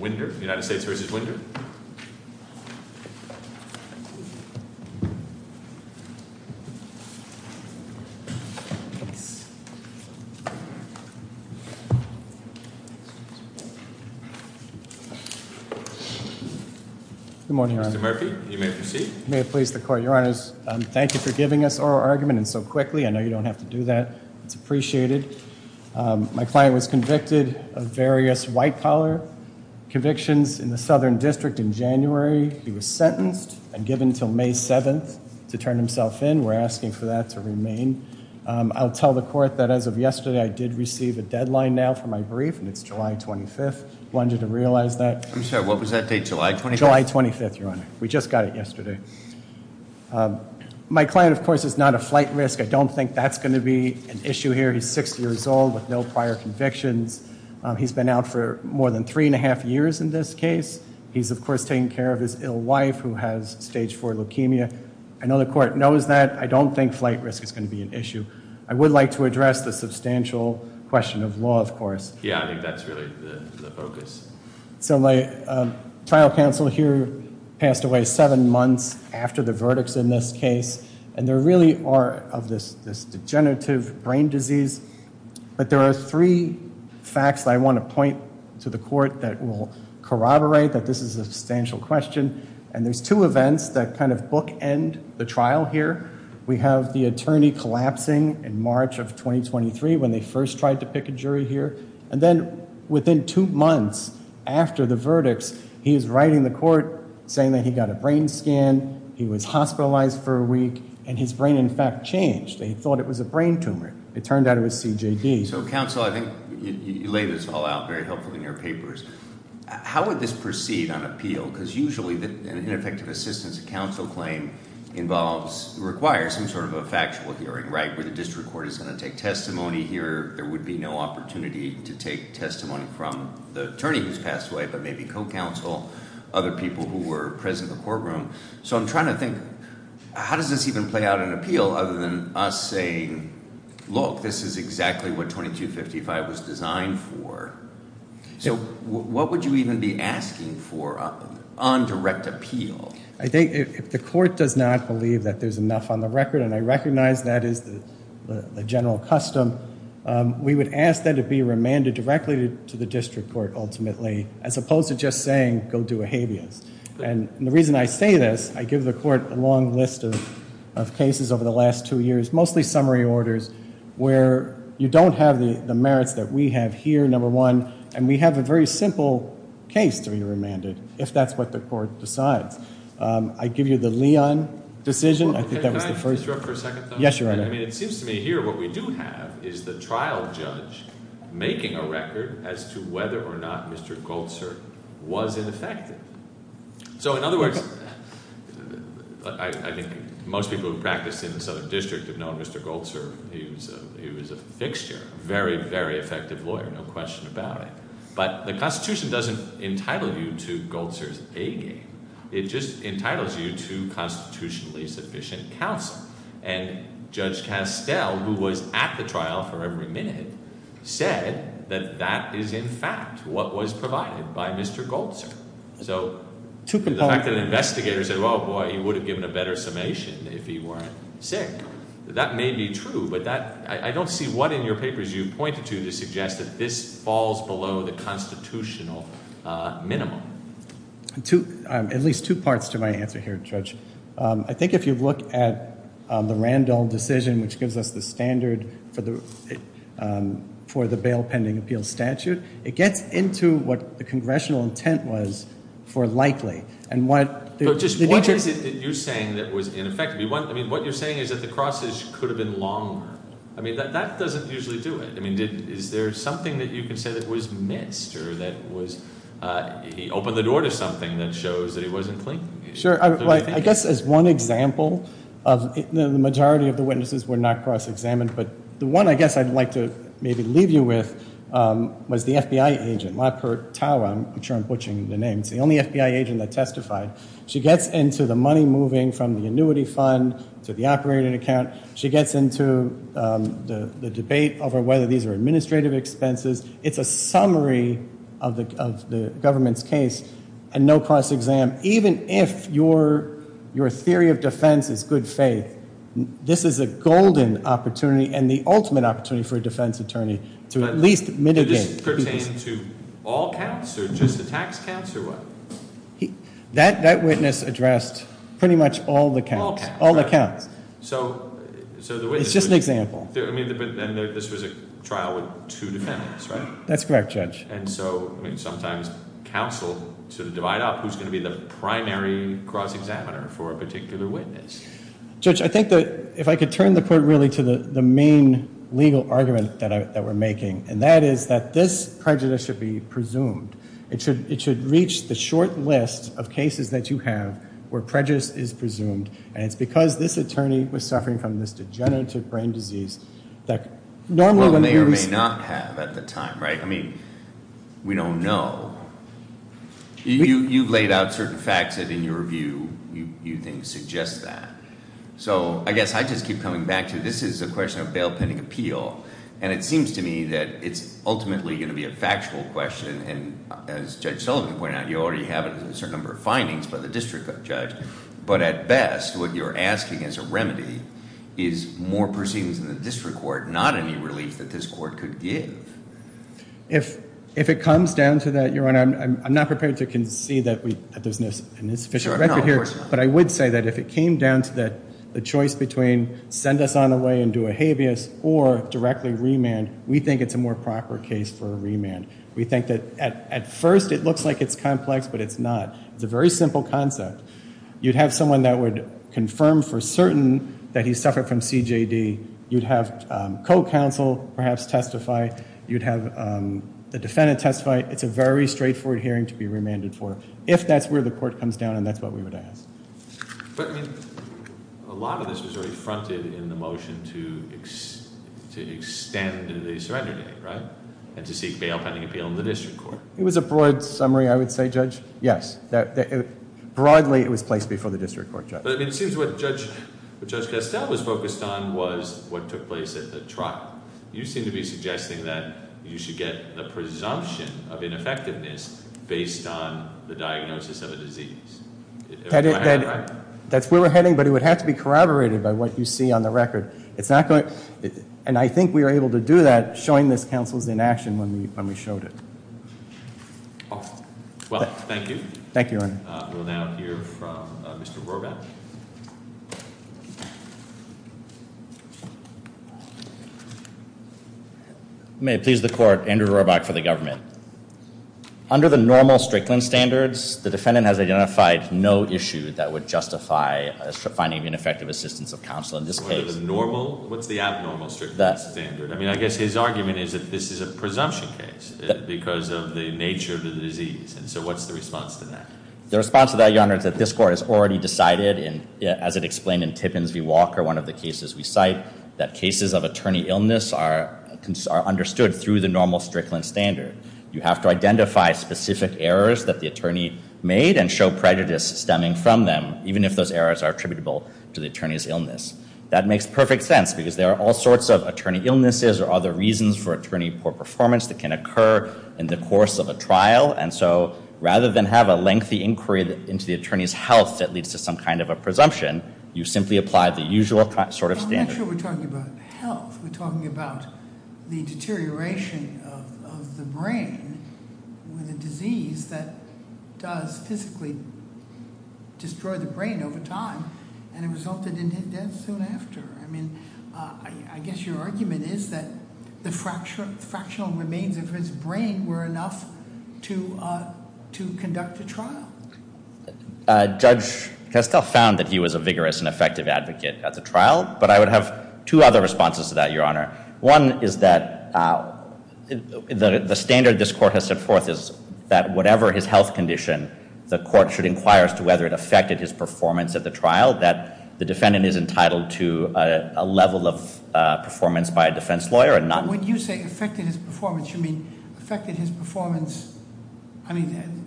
Wynder, United States v. Wynder. Good morning, Your Honor. Mr. Murphy, you may proceed. May it please the Court. Your Honors, thank you for giving us oral argument and so quickly. I know you don't have to do that. It's appreciated. My client was convicted of various white-collar convictions in the Southern District in January. He was sentenced and given until May 7th to turn himself in. We're asking for that to remain. I'll tell the Court that as of yesterday, I did receive a deadline now for my brief, and it's July 25th. I want you to realize that. I'm sorry, what was that date, July 25th? July 25th, Your Honor. We just got it yesterday. My client, of course, is not a flight risk. I don't think that's going to be an issue here. He's 60 years old with no prior convictions. He's been out for more than three and a half years in this case. He's, of course, taking care of his ill wife, who has stage 4 leukemia. I know the Court knows that. I don't think flight risk is going to be an issue. I would like to address the substantial question of law, of course. Yeah, I think that's really the focus. So my trial counsel here passed away seven months after the verdicts in this case. And there really are of this degenerative brain disease. But there are three facts that I want to point to the Court that will corroborate that this is a substantial question. And there's two events that kind of bookend the trial here. We have the attorney collapsing in March of 2023 when they first tried to pick a jury here. And then within two months after the verdicts, he is writing the Court saying that he got a brain scan. He was hospitalized for a week, and his brain, in fact, changed. They thought it was a brain tumor. It turned out it was CJD. So, counsel, I think you laid this all out very helpfully in your papers. How would this proceed on appeal? Because usually an ineffective assistance counsel claim involves, requires some sort of a factual hearing, right? The district court is going to take testimony here. There would be no opportunity to take testimony from the attorney who's passed away, but maybe co-counsel, other people who were present in the courtroom. So I'm trying to think, how does this even play out on appeal other than us saying, look, this is exactly what 2255 was designed for? So what would you even be asking for on direct appeal? I think if the Court does not believe that there's enough on the record, and I recognize that is the general custom, we would ask that it be remanded directly to the district court, ultimately, as opposed to just saying, go do a habeas. And the reason I say this, I give the Court a long list of cases over the last two years, mostly summary orders where you don't have the merits that we have here, number one, and we have a very simple case to be remanded if that's what the Court decides. I give you the Leon decision. I think that was the first. Can I interrupt for a second, though? Yes, Your Honor. I mean, it seems to me here what we do have is the trial judge making a record as to whether or not Mr. Goltzer was ineffective. So in other words, I think most people who practice in the Southern District have known Mr. Goltzer. He was a fixture, a very, very effective lawyer, no question about it. But the Constitution doesn't entitle you to Goltzer's A game. It just entitles you to constitutionally sufficient counsel. And Judge Castell, who was at the trial for every minute, said that that is in fact what was provided by Mr. Goltzer. So the fact that investigators said, oh, boy, he would have given a better summation if he weren't sick, that may be true, but I don't see what in your papers you pointed to to suggest that this falls below the constitutional minimum. At least two parts to my answer here, Judge. I think if you look at the Randolph decision, which gives us the standard for the bail pending appeal statute, it gets into what the congressional intent was for likely. But just what is it that you're saying that was ineffective? I mean, what you're saying is that the crosses could have been longer. I mean, that doesn't usually do it. I mean, is there something that you can say that was missed or that was he opened the door to something that shows that he wasn't clean? Sure. I guess as one example of the majority of the witnesses were not cross-examined. But the one I guess I'd like to maybe leave you with was the FBI agent, Lapert Tower. I'm sure I'm butchering the name. It's the only FBI agent that testified. She gets into the money moving from the annuity fund to the operating account. She gets into the debate over whether these are administrative expenses. It's a summary of the government's case and no cross-exam. Even if your theory of defense is good faith, this is a golden opportunity and the ultimate opportunity for a defense attorney to at least mitigate. Does this pertain to all counts or just the tax counts or what? That witness addressed pretty much all the counts. All the counts. It's just an example. This was a trial with two defendants, right? That's correct, Judge. And so sometimes counsel sort of divide up who's going to be the primary cross-examiner for a particular witness. Judge, I think that if I could turn the court really to the main legal argument that we're making, and that is that this prejudice should be presumed. It should reach the short list of cases that you have where prejudice is presumed. And it's because this attorney was suffering from this degenerative brain disease that normally when we release- Or may or may not have at the time, right? I mean, we don't know. You've laid out certain facts that in your review you think suggest that. So I guess I just keep coming back to this is a question of bail pending appeal. And it seems to me that it's ultimately going to be a factual question. And as Judge Sullivan pointed out, you already have a certain number of findings by the district judge. But at best, what you're asking as a remedy is more proceedings in the district court, not any relief that this court could give. If it comes down to that, Your Honor, I'm not prepared to concede that there's no sufficient record here. But I would say that if it came down to the choice between send us on away and do a habeas or directly remand, we think it's a more proper case for a remand. We think that at first it looks like it's complex, but it's not. It's a very simple concept. You'd have someone that would confirm for certain that he suffered from CJD. You'd have co-counsel perhaps testify. You'd have the defendant testify. It's a very straightforward hearing to be remanded for. If that's where the court comes down, then that's what we would ask. But, I mean, a lot of this was already fronted in the motion to extend the surrender date, right? And to seek bail pending appeal in the district court. It was a broad summary, I would say, Judge. Yes. Broadly, it was placed before the district court, Judge. But, I mean, it seems what Judge Castell was focused on was what took place at the trial. You seem to be suggesting that you should get the presumption of ineffectiveness based on the diagnosis of a disease. That's where we're heading, but it would have to be corroborated by what you see on the record. And I think we were able to do that showing this counsel's inaction when we showed it. Well, thank you. Thank you, Your Honor. We'll now hear from Mr. Roback. May it please the court, Andrew Roback for the government. Under the normal Strickland standards, the defendant has identified no issue that would justify finding ineffective assistance of counsel in this case. Under the normal? What's the abnormal Strickland standard? I mean, I guess his argument is that this is a presumption case because of the nature of the disease. And so what's the response to that? The response to that, Your Honor, is that this court has already decided, as it explained in Tippins v. Walker, one of the cases we cite, that cases of attorney illness are understood through the normal Strickland standard. You have to identify specific errors that the attorney made and show prejudice stemming from them, even if those errors are attributable to the attorney's illness. That makes perfect sense because there are all sorts of attorney illnesses or other reasons for attorney poor performance that can occur in the course of a trial. And so rather than have a lengthy inquiry into the attorney's health that leads to some kind of a presumption, you simply apply the usual sort of standard. I'm not sure we're talking about health. We're talking about the deterioration of the brain with a disease that does physically destroy the brain over time, and it resulted in his death soon after. I mean, I guess your argument is that the fractional remains of his brain were enough to conduct a trial. Judge Castell found that he was a vigorous and effective advocate at the trial, but I would have two other responses to that, Your Honor. One is that the standard this court has set forth is that whatever his health condition, the court should inquire as to whether it affected his performance at the trial, that the defendant is entitled to a level of performance by a defense lawyer and not— By saying affected his performance, you mean affected his performance— I mean,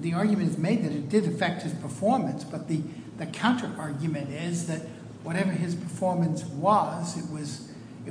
the argument is made that it did affect his performance, but the counterargument is that whatever his performance was, it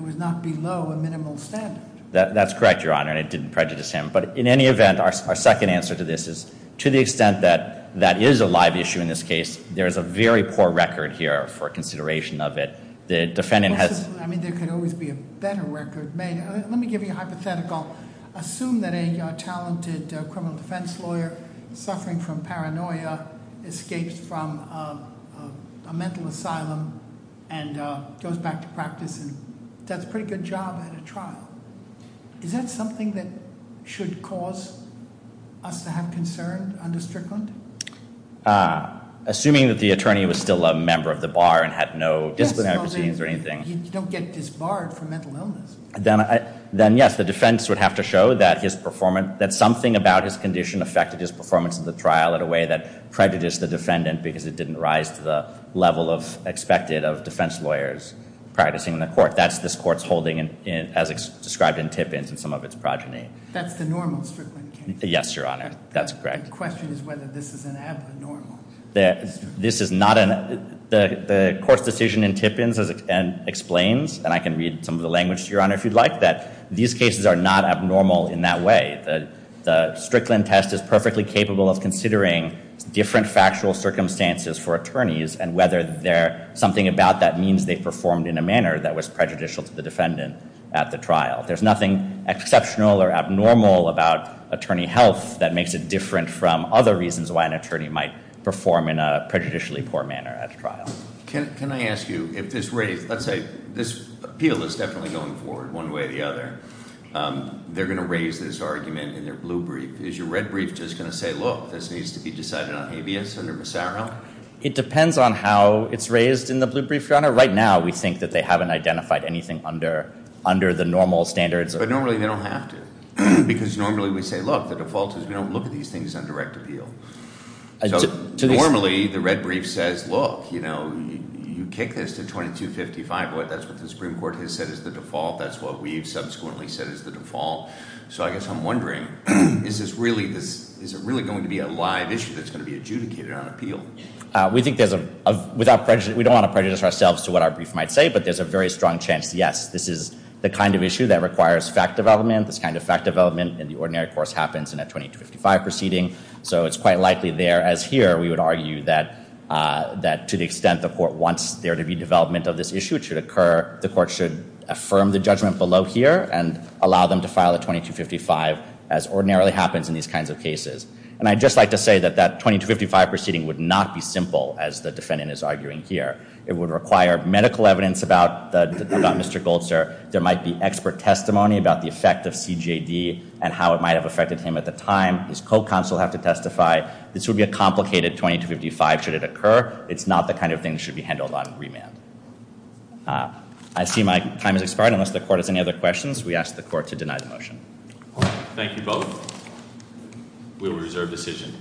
was not below a minimal standard. That's correct, Your Honor, and I didn't prejudice him. But in any event, our second answer to this is to the extent that that is a live issue in this case, there is a very poor record here for consideration of it. I mean, there could always be a better record made. Let me give you a hypothetical. Assume that a talented criminal defense lawyer suffering from paranoia escapes from a mental asylum and goes back to practice and does a pretty good job at a trial. Is that something that should cause us to have concern under Strickland? Assuming that the attorney was still a member of the bar and had no disciplinary proceedings or anything— You don't get disbarred for mental illness. Then, yes, the defense would have to show that something about his condition affected his performance at the trial in a way that prejudiced the defendant because it didn't rise to the level expected of defense lawyers practicing in the court. That's this court's holding as described in Tippins and some of its progeny. That's the normal Strickland case? Yes, Your Honor, that's correct. The question is whether this is an abnormal— This is not an—the court's decision in Tippins explains, and I can read some of the language, Your Honor, if you'd like, that these cases are not abnormal in that way. The Strickland test is perfectly capable of considering different factual circumstances for attorneys and whether something about that means they performed in a manner that was prejudicial to the defendant at the trial. There's nothing exceptional or abnormal about attorney health that makes it different from other reasons why an attorney might perform in a prejudicially poor manner at a trial. Can I ask you if this—let's say this appeal is definitely going forward one way or the other. They're going to raise this argument in their blue brief. Is your red brief just going to say, look, this needs to be decided on habeas under Massaro? It depends on how it's raised in the blue brief, Your Honor. For right now, we think that they haven't identified anything under the normal standards. But normally they don't have to because normally we say, look, the default is we don't look at these things on direct appeal. So normally the red brief says, look, you know, you kick this to 2255. That's what the Supreme Court has said is the default. That's what we've subsequently said is the default. So I guess I'm wondering, is this really—is it really going to be a live issue that's going to be adjudicated on appeal? We think there's a—without prejudice—we don't want to prejudice ourselves to what our brief might say, but there's a very strong chance, yes, this is the kind of issue that requires fact development, this kind of fact development in the ordinary course happens in a 2255 proceeding. So it's quite likely there, as here, we would argue that to the extent the court wants there to be development of this issue, it should occur—the court should affirm the judgment below here and allow them to file a 2255 as ordinarily happens in these kinds of cases. And I'd just like to say that that 2255 proceeding would not be simple, as the defendant is arguing here. It would require medical evidence about Mr. Goldster. There might be expert testimony about the effect of CJD and how it might have affected him at the time. His co-counsel would have to testify. This would be a complicated 2255 should it occur. It's not the kind of thing that should be handled on remand. I see my time has expired. Unless the court has any other questions, we ask the court to deny the motion. Thank you both. We will reserve decision.